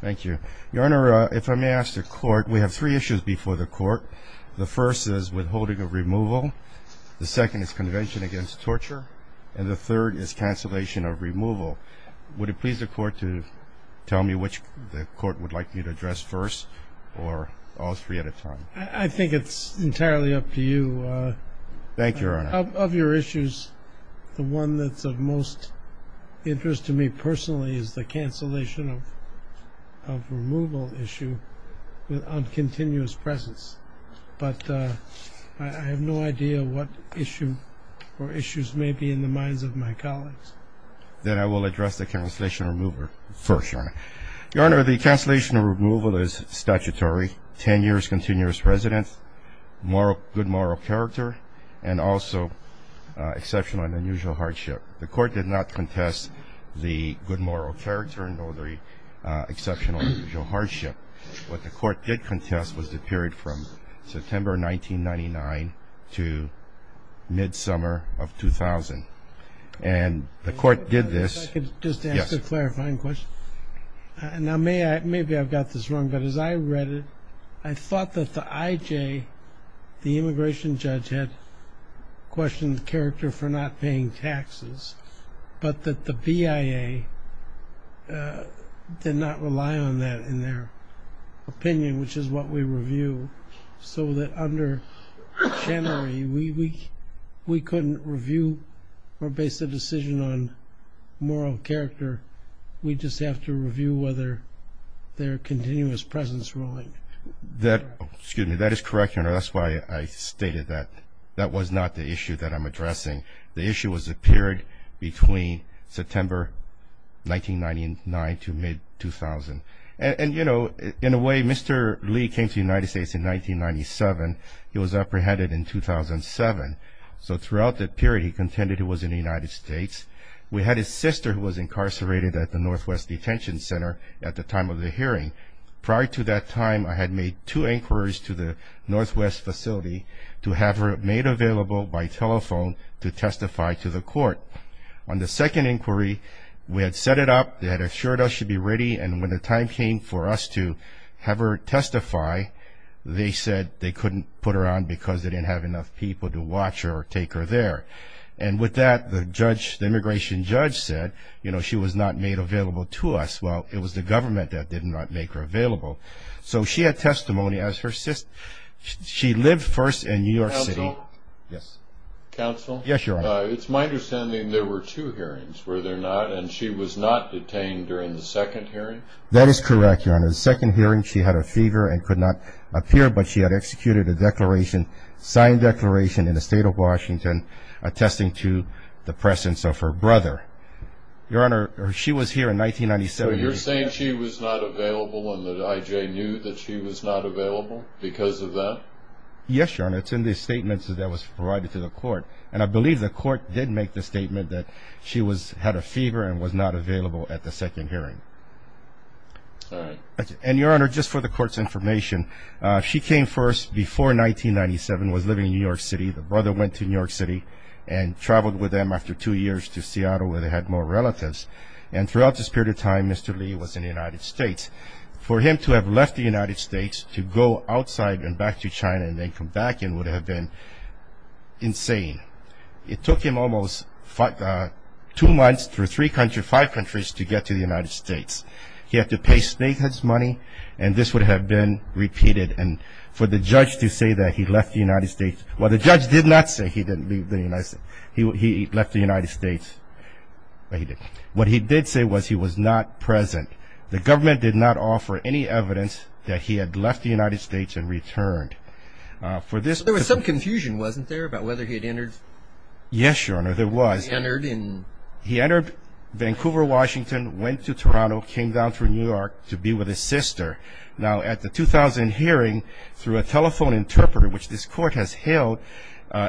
Thank you. Your Honor, if I may ask the Court, we have three issues before the Court. The first is withholding of removal, the second is convention against torture, and the third is cancellation of removal. Would it please the Court to tell me which the Court would like me to address first, or all three at a time? I think it's entirely up to you. Thank you, Your Honor. Of your issues, the one that's of most interest to me personally is the cancellation of removal issue on continuous presence. But I have no idea what issue or issues may be in the minds of my colleagues. Then I will address the cancellation of removal first, Your Honor. Your Honor, the cancellation of removal is statutory, 10 years continuous residence, good moral character, and also exceptional and unusual hardship. The Court did not contest the good moral character, nor the exceptional and unusual hardship. What the Court did contest was the period from September 1999 to mid-summer of 2000. And the Court did this. If I could just ask a clarifying question. Now, maybe I've got this wrong, but as I read it, I thought that the IJ, the immigration judge, had questioned the character for not paying taxes, but that the BIA did not rely on that in their opinion, which is what we review. So that under Chenery, we couldn't review or base a decision on moral character. We just have to review whether their continuous presence ruling. Excuse me. That is correct, Your Honor. That's why I stated that. That was not the issue that I'm addressing. The issue was the period between September 1999 to mid-2000. And, you know, in a way, Mr. Lee came to the United States in 1997. He was apprehended in 2007. So throughout that period, he contended he was in the United States. We had his sister who was incarcerated at the Northwest Detention Center at the time of the hearing. Prior to that time, I had made two inquiries to the Northwest facility to have her made available by telephone to testify to the Court. On the second inquiry, we had set it up, they had assured us she'd be ready, and when the time came for us to have her testify, they said they couldn't put her on because they didn't have enough people to watch her or take her there. And with that, the immigration judge said, you know, she was not made available to us. Well, it was the government that did not make her available. So she had testimony as her sister. She lived first in New York City. Counsel? Yes. Counsel? Yes, Your Honor. It's my understanding there were two hearings, were there not, and she was not detained during the second hearing? That is correct, Your Honor. The second hearing, she had a fever and could not appear, but she had executed a declaration, signed declaration in the state of Washington, attesting to the presence of her brother. Your Honor, she was here in 1997. So you're saying she was not available and that I.J. knew that she was not available because of that? Yes, Your Honor. It's in the statements that was provided to the Court, and I believe the Court did make the statement that she had a fever and was not available at the second hearing. All right. And, Your Honor, just for the Court's information, she came first before 1997, was living in New York City. The brother went to New York City and traveled with them after two years to Seattle where they had more relatives. And throughout this period of time, Mr. Lee was in the United States. For him to have left the United States to go outside and back to China and then come back in would have been insane. It took him almost two months through three countries, five countries, to get to the United States. He had to pay snake heads money, and this would have been repeated. And for the judge to say that he left the United States Well, the judge did not say he didn't leave the United States. He left the United States, but he didn't. What he did say was he was not present. The government did not offer any evidence that he had left the United States and returned. There was some confusion, wasn't there, about whether he had entered? Yes, Your Honor, there was. He entered in? went to Toronto, came down through New York to be with his sister. Now, at the 2000 hearing, through a telephone interpreter, which this court has held,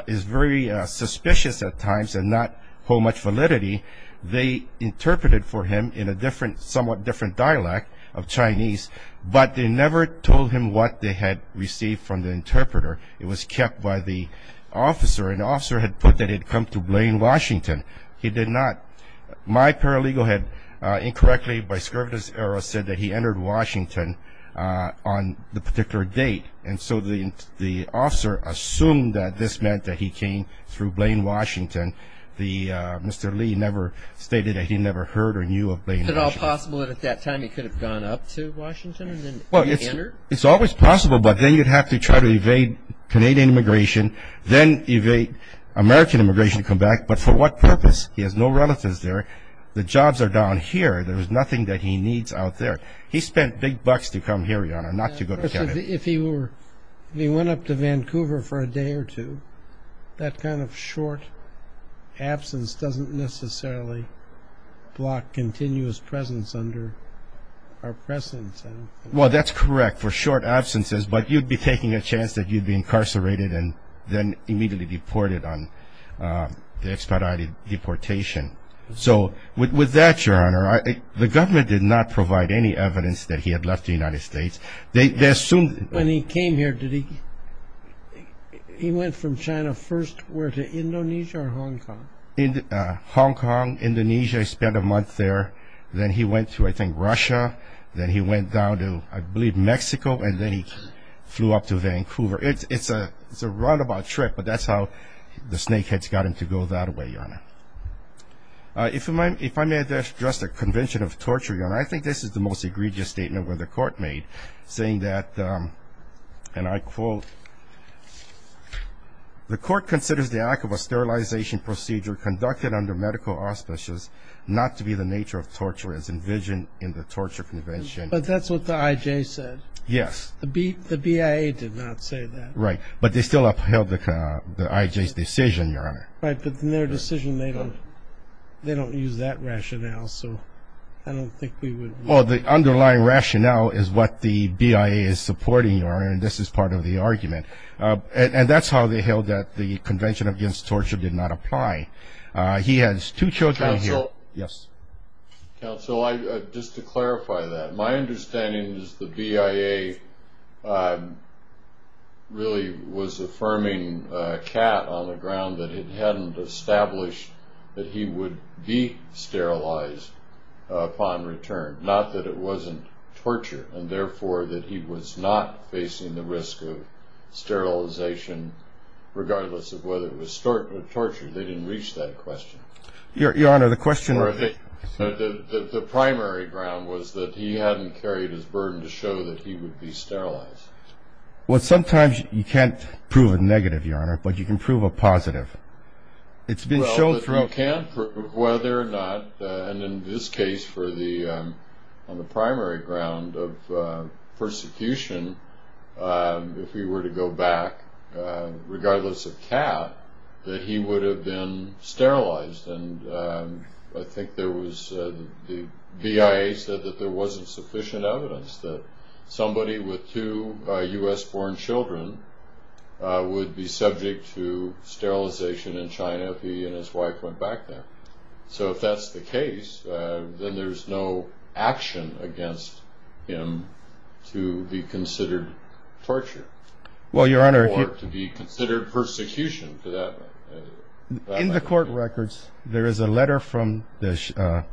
is very suspicious at times and not hold much validity. They interpreted for him in a somewhat different dialect of Chinese, but they never told him what they had received from the interpreter. It was kept by the officer. An officer had put that he had come to blame Washington. He did not. My paralegal had incorrectly, by scurvy of his error, said that he entered Washington on the particular date. And so the officer assumed that this meant that he came through blame Washington. Mr. Lee never stated that he never heard or knew of blame Washington. Is it at all possible that at that time he could have gone up to Washington and then entered? It's always possible, but then you'd have to try to evade Canadian immigration, then evade American immigration to come back, but for what purpose? He has no relatives there. The jobs are down here. There's nothing that he needs out there. He spent big bucks to come here, Your Honor, not to go to Canada. If he went up to Vancouver for a day or two, that kind of short absence doesn't necessarily block continuous presence under our presence. Well, that's correct for short absences, but you'd be taking a chance that you'd be incarcerated and then immediately deported on the expedited deportation. So with that, Your Honor, the government did not provide any evidence that he had left the United States. When he came here, he went from China first to Indonesia or Hong Kong? Hong Kong, Indonesia. He spent a month there. Then he went to, I think, Russia. Then he went down to, I believe, Mexico, and then he flew up to Vancouver. It's a roundabout trip, but that's how the snakeheads got him to go that way, Your Honor. If I may address the convention of torture, Your Honor, I think this is the most egregious statement where the court made, saying that, and I quote, the court considers the act of a sterilization procedure conducted under medical auspices not to be the nature of torture as envisioned in the torture convention. But that's what the IJ said. Yes. The BIA did not say that. Right. But they still upheld the IJ's decision, Your Honor. Right, but in their decision they don't use that rationale, so I don't think we would know. Well, the underlying rationale is what the BIA is supporting, Your Honor, and this is part of the argument. And that's how they held that the convention against torture did not apply. He has two children here. Counsel? Yes. Counsel, just to clarify that. My understanding is the BIA really was affirming Catt on the ground that it hadn't established that he would be sterilized upon return, not that it wasn't torture, and therefore that he was not facing the risk of sterilization, regardless of whether it was torture. They didn't reach that question. Your Honor, the question was. The primary ground was that he hadn't carried his burden to show that he would be sterilized. Well, sometimes you can't prove a negative, Your Honor, but you can prove a positive. It's been shown through. Whether or not, and in this case on the primary ground of persecution, if he were to go back, regardless of Catt, that he would have been sterilized. I think the BIA said that there wasn't sufficient evidence that somebody with two U.S.-born children would be subject to sterilization in China if he and his wife went back there. So if that's the case, then there's no action against him to be considered torture. Well, Your Honor. Or to be considered persecution. In the court records, there is a letter from the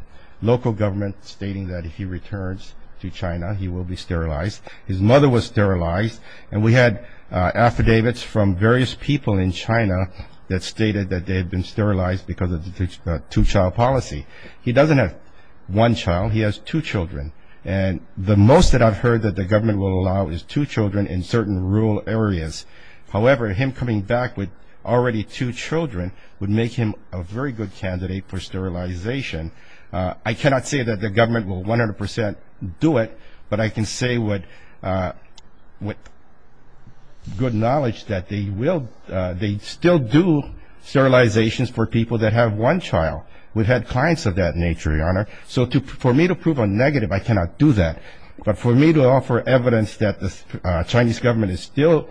local government stating that if he returns to China, he will be sterilized. His mother was sterilized, and we had affidavits from various people in China that stated that they had been sterilized because of the two-child policy. He doesn't have one child. He has two children. And the most that I've heard that the government will allow is two children in certain rural areas. However, him coming back with already two children would make him a very good candidate for sterilization. I cannot say that the government will 100 percent do it, but I can say with good knowledge that they still do sterilizations for people that have one child. We've had clients of that nature, Your Honor. So for me to prove a negative, I cannot do that. But for me to offer evidence that the Chinese government is still,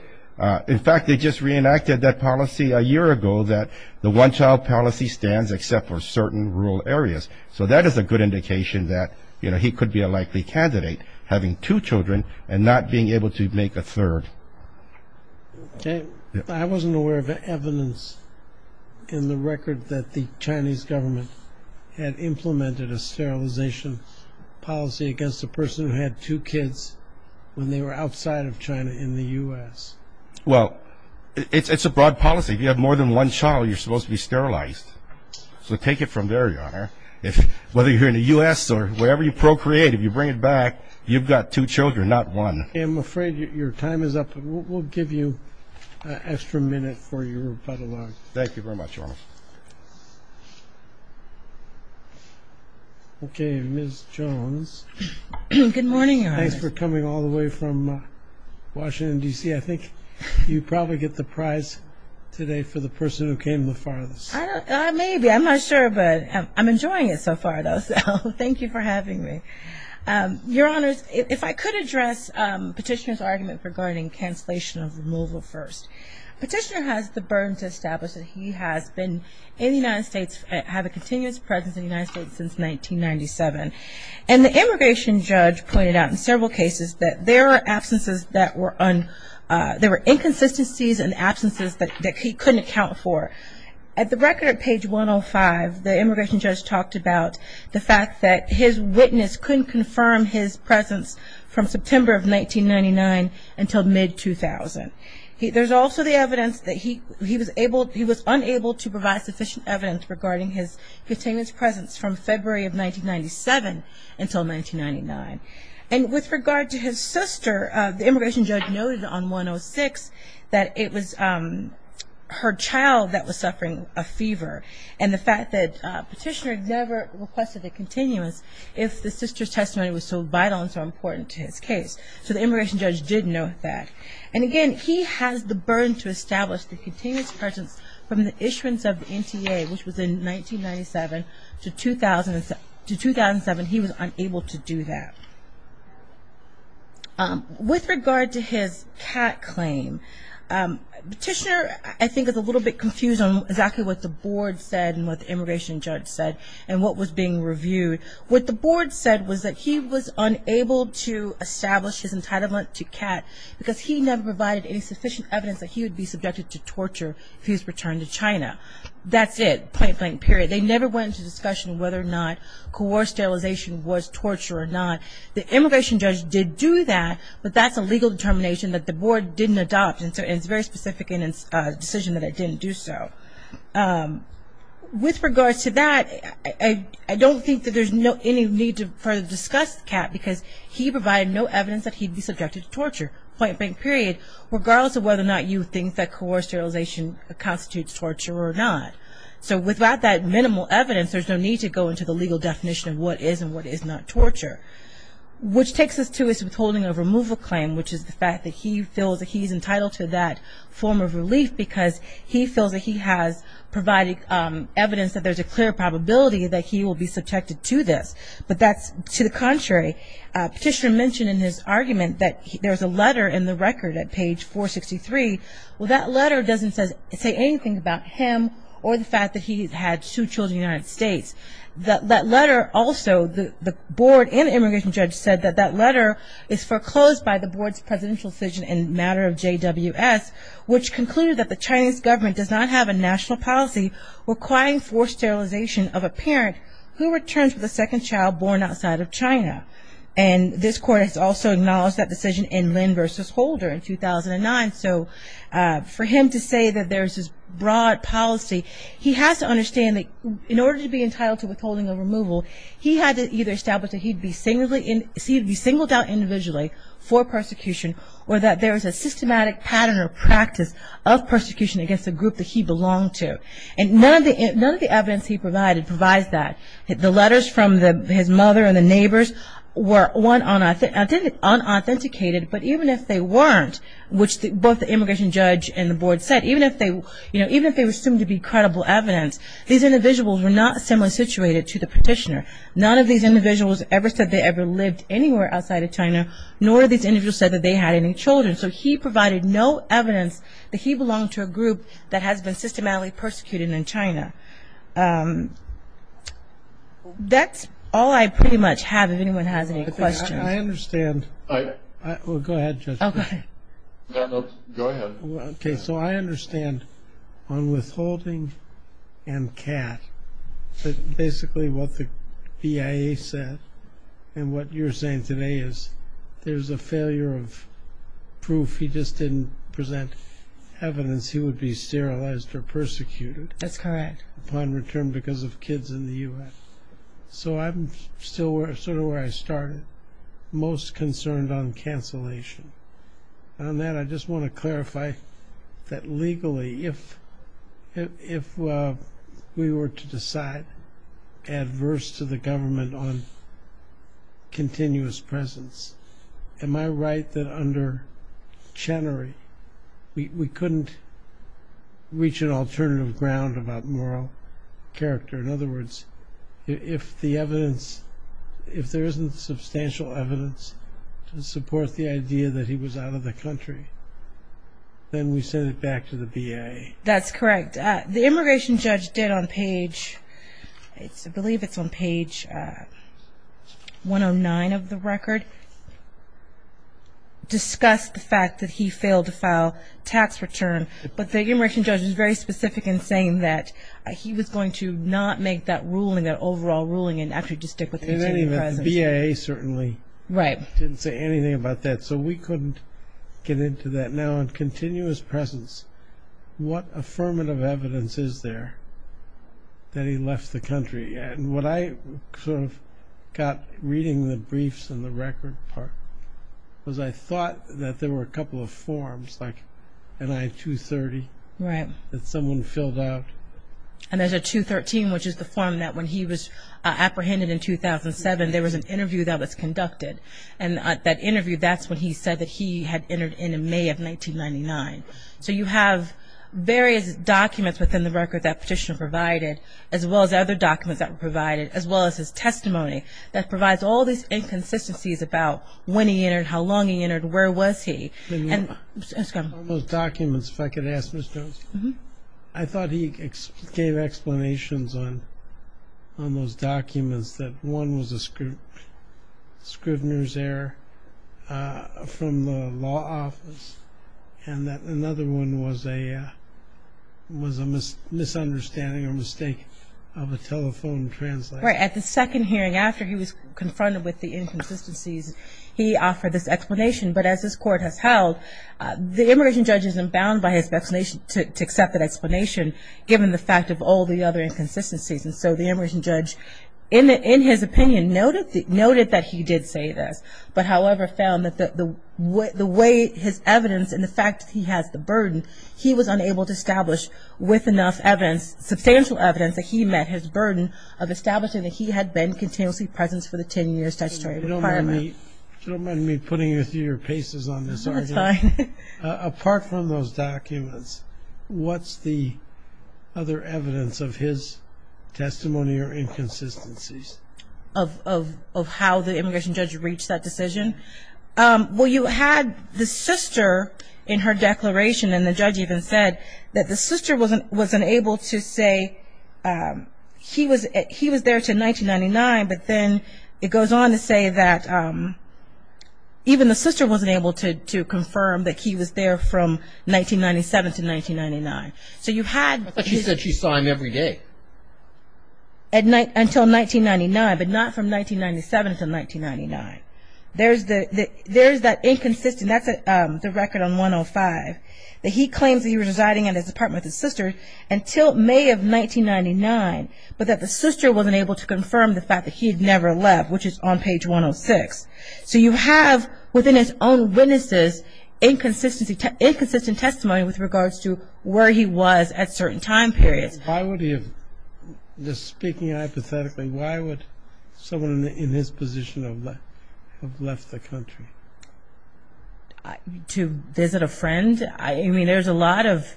in fact, they just reenacted that policy a year ago that the one-child policy stands except for certain rural areas. So that is a good indication that, you know, he could be a likely candidate having two children and not being able to make a third. I wasn't aware of evidence in the record that the Chinese government had implemented a sterilization policy against a person who had two kids when they were outside of China in the U.S. Well, it's a broad policy. If you have more than one child, you're supposed to be sterilized. So take it from there, Your Honor. Whether you're here in the U.S. or wherever you procreate, if you bring it back, you've got two children, not one. I'm afraid your time is up. We'll give you an extra minute for your rebuttal. Thank you very much, Your Honor. Okay, Ms. Jones. Good morning, Your Honor. Thanks for coming all the way from Washington, D.C. I think you probably get the prize today for the person who came the farthest. Maybe. I'm not sure, but I'm enjoying it so far, though. So thank you for having me. Your Honor, if I could address Petitioner's argument regarding cancellation of removal first. Petitioner has the burden to establish that he has been in the United States, had a continuous presence in the United States since 1997. And the immigration judge pointed out in several cases that there are absences that were un- there were inconsistencies and absences that he couldn't account for. At the record at page 105, the immigration judge talked about the fact that his witness couldn't confirm his presence from September of 1999 until mid-2000. There's also the evidence that he was able- he was unable to provide sufficient evidence regarding his continuous presence from February of 1997 until 1999. And with regard to his sister, the immigration judge noted on 106 that it was her child that was suffering a fever, and the fact that Petitioner never requested a continuous if the sister's testimony was so vital and so important to his case. So the immigration judge did note that. And again, he has the burden to establish the continuous presence from the issuance of the NTA, which was in 1997 to 2007. He was unable to do that. With regard to his CAT claim, Petitioner, I think, is a little bit confused on exactly what the board said and what the immigration judge said and what was being reviewed. What the board said was that he was unable to establish his entitlement to CAT because he never provided any sufficient evidence that he would be subjected to torture if he was returned to China. That's it, point blank, period. They never went into discussion whether or not coerced sterilization was torture or not. The immigration judge did do that, but that's a legal determination that the board didn't adopt, and it's very specific in its decision that it didn't do so. With regard to that, I don't think that there's any need to further discuss CAT because he provided no evidence that he'd be subjected to torture, point blank, period, regardless of whether or not you think that coerced sterilization constitutes torture or not. So without that minimal evidence, there's no need to go into the legal definition of what is and what is not torture. Which takes us to his withholding of removal claim, which is the fact that he feels that he's entitled to that form of relief because he feels that he has provided evidence that there's a clear probability that he will be subjected to this. But that's to the contrary. Petitioner mentioned in his argument that there's a letter in the record at page 463. Well, that letter doesn't say anything about him or the fact that he had two children in the United States. That letter also, the board and immigration judge said that that letter is foreclosed by the board's presidential decision in matter of JWS, which concluded that the Chinese government does not have a national policy requiring forced sterilization of a parent who returns with a second child born outside of China. And this court has also acknowledged that decision in Lin versus Holder in 2009. So for him to say that there's this broad policy, he has to understand that in order to be entitled to withholding of removal, he had to either establish that he'd be singled out individually for persecution or that there's a systematic pattern or practice of persecution against the group that he belonged to. And none of the evidence he provided provides that. The letters from his mother and the neighbors were, one, unauthenticated, but even if they weren't, which both the immigration judge and the board said, even if they were assumed to be credible evidence, these individuals were not similarly situated to the petitioner. Nor these individuals said that they had any children. So he provided no evidence that he belonged to a group that has been systematically persecuted in China. That's all I pretty much have, if anyone has any questions. I understand. Go ahead, Judge. Go ahead. Okay, so I understand on withholding and CAT, basically what the BIA said and what you're saying today is there's a failure of proof. He just didn't present evidence he would be sterilized or persecuted. That's correct. Upon return because of kids in the U.S. So I'm still sort of where I started, most concerned on cancellation. On that, I just want to clarify that legally, if we were to decide adverse to the government on continuous presence, am I right that under Chenery we couldn't reach an alternative ground about moral character? In other words, if the evidence, if there isn't substantial evidence to support the idea that he was out of the country, then we send it back to the BIA. That's correct. The immigration judge did on page, I believe it's on page 109 of the record, discuss the fact that he failed to file tax return. But the immigration judge was very specific in saying that he was going to not make that ruling, that overall ruling and actually just stick with continuous presence. The BIA certainly didn't say anything about that. So we couldn't get into that. Now on continuous presence, what affirmative evidence is there that he left the country? And what I sort of got reading the briefs and the record part was I thought that there were a couple of forms like an I-230 that someone filled out. And there's a 213, which is the form that when he was apprehended in 2007, there was an interview that was conducted. And that interview, that's when he said that he had entered in May of 1999. So you have various documents within the record that petitioner provided, as well as other documents that were provided, as well as his testimony that provides all these inconsistencies about when he entered, how long he entered, where was he. On those documents, if I could ask Ms. Jones, I thought he gave explanations on those documents that one was a scrivener's error from the law office and that another one was a misunderstanding or mistake of a telephone translator. At the second hearing after he was confronted with the inconsistencies, he offered this explanation, but as this court has held, the immigration judge is not bound by his explanation to accept that explanation, given the fact of all the other inconsistencies. And so the immigration judge, in his opinion, noted that he did say this, but however found that the way his evidence and the fact that he has the burden, he was unable to establish with enough evidence, substantial evidence that he met his burden of establishing that he had been continuously present for the 10 years statutory requirement. You don't mind me putting you through your paces on this argument. That's fine. Apart from those documents, what's the other evidence of his testimony or inconsistencies? Of how the immigration judge reached that decision? Well, you had the sister in her declaration, and the judge even said that the sister was unable to say he was there until 1999, but then it goes on to say that even the sister wasn't able to confirm that he was there from 1997 to 1999. But she said she saw him every day. Until 1999, but not from 1997 to 1999. There's that inconsistent, that's the record on 105, that he claims that he was residing in his apartment with his sister until May of 1999, but that the sister wasn't able to confirm the fact that he had never left, which is on page 106. So you have, within his own witnesses, inconsistent testimony with regards to where he was at certain time periods. Why would he have, just speaking hypothetically, why would someone in his position have left the country? To visit a friend? There's a lot of,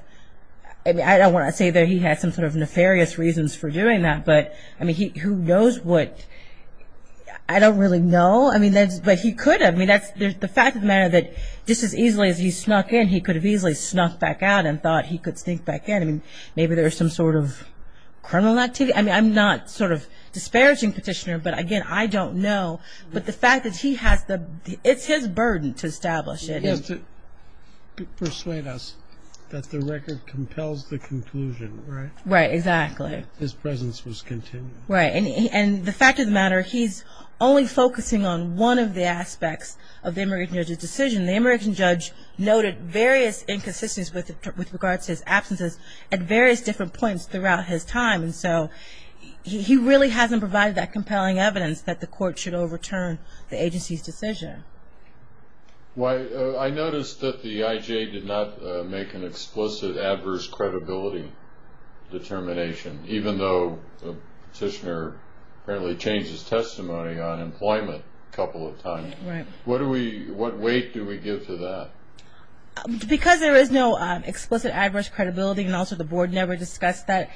I don't want to say that he had some sort of nefarious reasons for doing that, but who knows what, I don't really know, but he could have. The fact of the matter is that just as easily as he snuck in, he could have easily snuck back out and thought he could sneak back in. Maybe there was some sort of criminal activity? I'm not disparaging Petitioner, but again, I don't know. But the fact that he has the, it's his burden to establish it. To persuade us that the record compels the conclusion, right? Right, exactly. His presence was continued. Right, and the fact of the matter, he's only focusing on one of the aspects of the immigration judge's decision. The immigration judge noted various inconsistencies with regards to his absences at various different points throughout his time, and so he really hasn't provided that compelling evidence that the court should overturn the agency's decision. I noticed that the IJ did not make an explicit adverse credibility determination, even though Petitioner apparently changed his testimony on employment a couple of times. Right. What weight do we give to that? Because there is no explicit adverse credibility, and also the board never discussed that,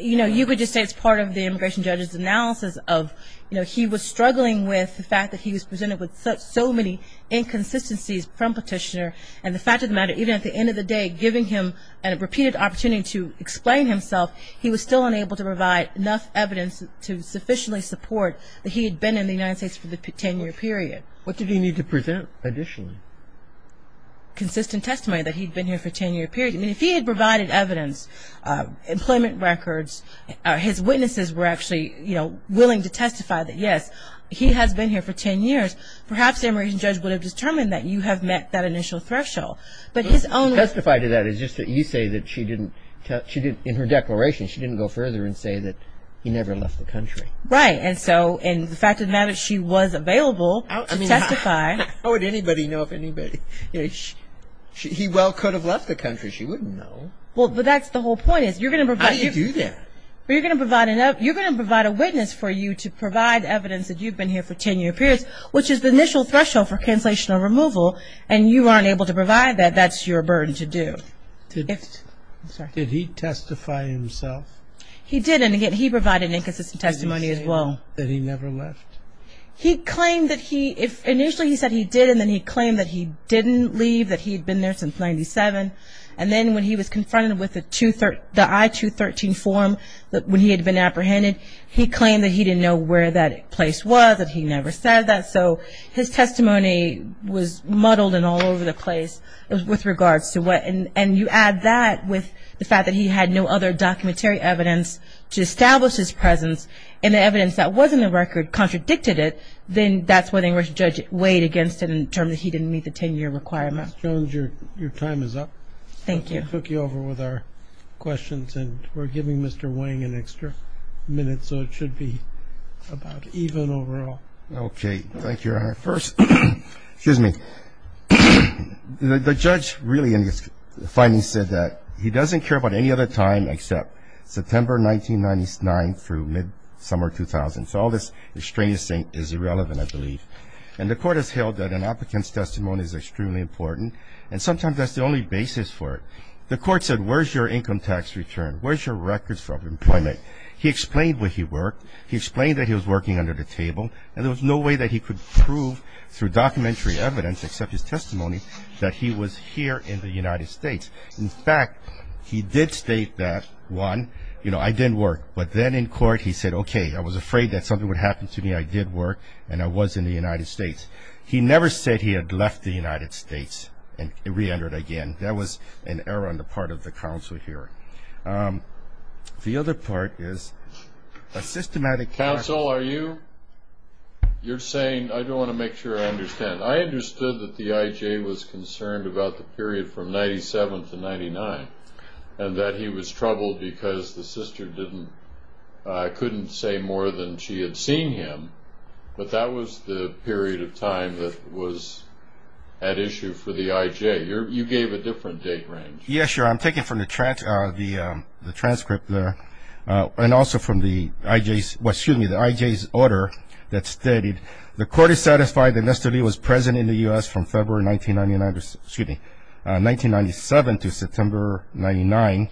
you know, you could just say it's part of the immigration judge's analysis of, you know, he was struggling with the fact that he was presented with so many inconsistencies from Petitioner, and the fact of the matter, even at the end of the day, giving him a repeated opportunity to explain himself, he was still unable to provide enough evidence to sufficiently support that he had been in the United States for the 10-year period. Okay. What did he need to present additionally? Consistent testimony that he'd been here for a 10-year period. I mean, if he had provided evidence, employment records, his witnesses were actually, you know, willing to testify that, yes, he has been here for 10 years, perhaps the immigration judge would have determined that you have met that initial threshold. Testify to that is just that you say that she didn't, in her declaration, she didn't go further and say that he never left the country. Right. And so, and the fact of the matter, she was available to testify. How would anybody know if anybody, you know, he well could have left the country. She wouldn't know. Well, that's the whole point is you're going to provide. How do you do that? You're going to provide enough, you're going to provide a witness for you to provide evidence that you've been here for 10-year periods, which is the initial threshold for cancellation or removal, and you aren't able to provide that, that's your burden to do. Did he testify himself? He did, and he provided inconsistent testimony as well. Did he tell that he never left? He claimed that he, initially he said he did, and then he claimed that he didn't leave, that he had been there since 97, and then when he was confronted with the I-213 form when he had been apprehended, he claimed that he didn't know where that place was, that he never said that, so his testimony was muddled and all over the place with regards to what, and you add that with the fact that he had no other documentary evidence to establish his presence and the evidence that was in the record contradicted it, then that's when the English judge weighed against it and determined that he didn't meet the 10-year requirement. Ms. Jones, your time is up. Thank you. We'll take over with our questions, and we're giving Mr. Wang an extra minute, so it should be about even overall. Okay, thank you. First, excuse me, the judge really in his findings said that he doesn't care about any other time except September 1999 through mid-summer 2000, so all this extraneous thing is irrelevant, I believe, and the court has held that an applicant's testimony is extremely important, and sometimes that's the only basis for it. The court said, Where's your income tax return? Where's your records of employment? He explained where he worked. He explained that he was working under the table, and there was no way that he could prove through documentary evidence except his testimony that he was here in the United States. In fact, he did state that, one, you know, I didn't work, but then in court he said, Okay, I was afraid that something would happen to me. I did work, and I was in the United States. He never said he had left the United States and reentered again. That was an error on the part of the counsel here. The other part is a systematic counsel. Counsel, are you? You're saying, I don't want to make sure I understand. I understood that the I.J. was concerned about the period from 97 to 99 and that he was troubled because the sister couldn't say more than she had seen him, but that was the period of time that was at issue for the I.J. You gave a different date range. Yes, sir. I'm taking from the transcript and also from the I.J.'s order that stated, The court is satisfied that Mr. Lee was present in the U.S. from February 1999, excuse me, 1997 to September 99,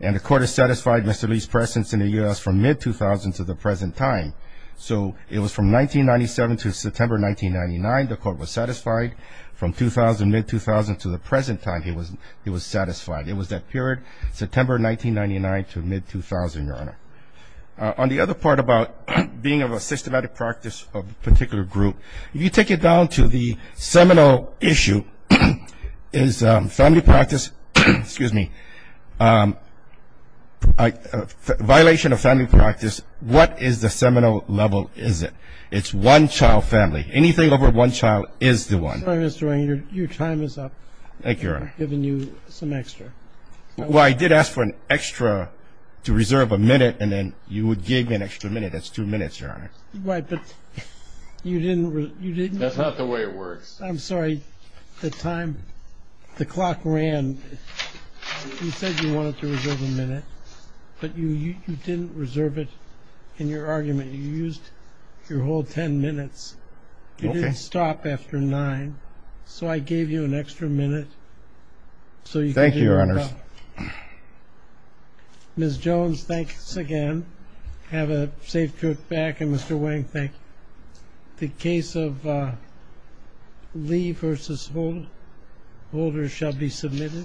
and the court is satisfied Mr. Lee's presence in the U.S. from mid-2000 to the present time. So it was from 1997 to September 1999 the court was satisfied. From 2000, mid-2000 to the present time he was satisfied. It was that period, September 1999 to mid-2000, Your Honor. On the other part about being of a systematic practice of a particular group, if you take it down to the seminal issue, is family practice, excuse me, violation of family practice, what is the seminal level, is it? It's one child family. Anything over one child is the one. I'm sorry, Mr. Wang. Your time is up. Thank you, Your Honor. I've given you some extra. Well, I did ask for an extra to reserve a minute, and then you gave me an extra minute. That's two minutes, Your Honor. Right, but you didn't. That's not the way it works. I'm sorry. The time, the clock ran. You said you wanted to reserve a minute, but you didn't reserve it in your argument. You used your whole ten minutes. Okay. You didn't stop after nine, so I gave you an extra minute. Thank you, Your Honor. Ms. Jones, thanks again. Have a safe trip back. And, Mr. Wang, thank you. The case of Lee v. Holder shall be submitted.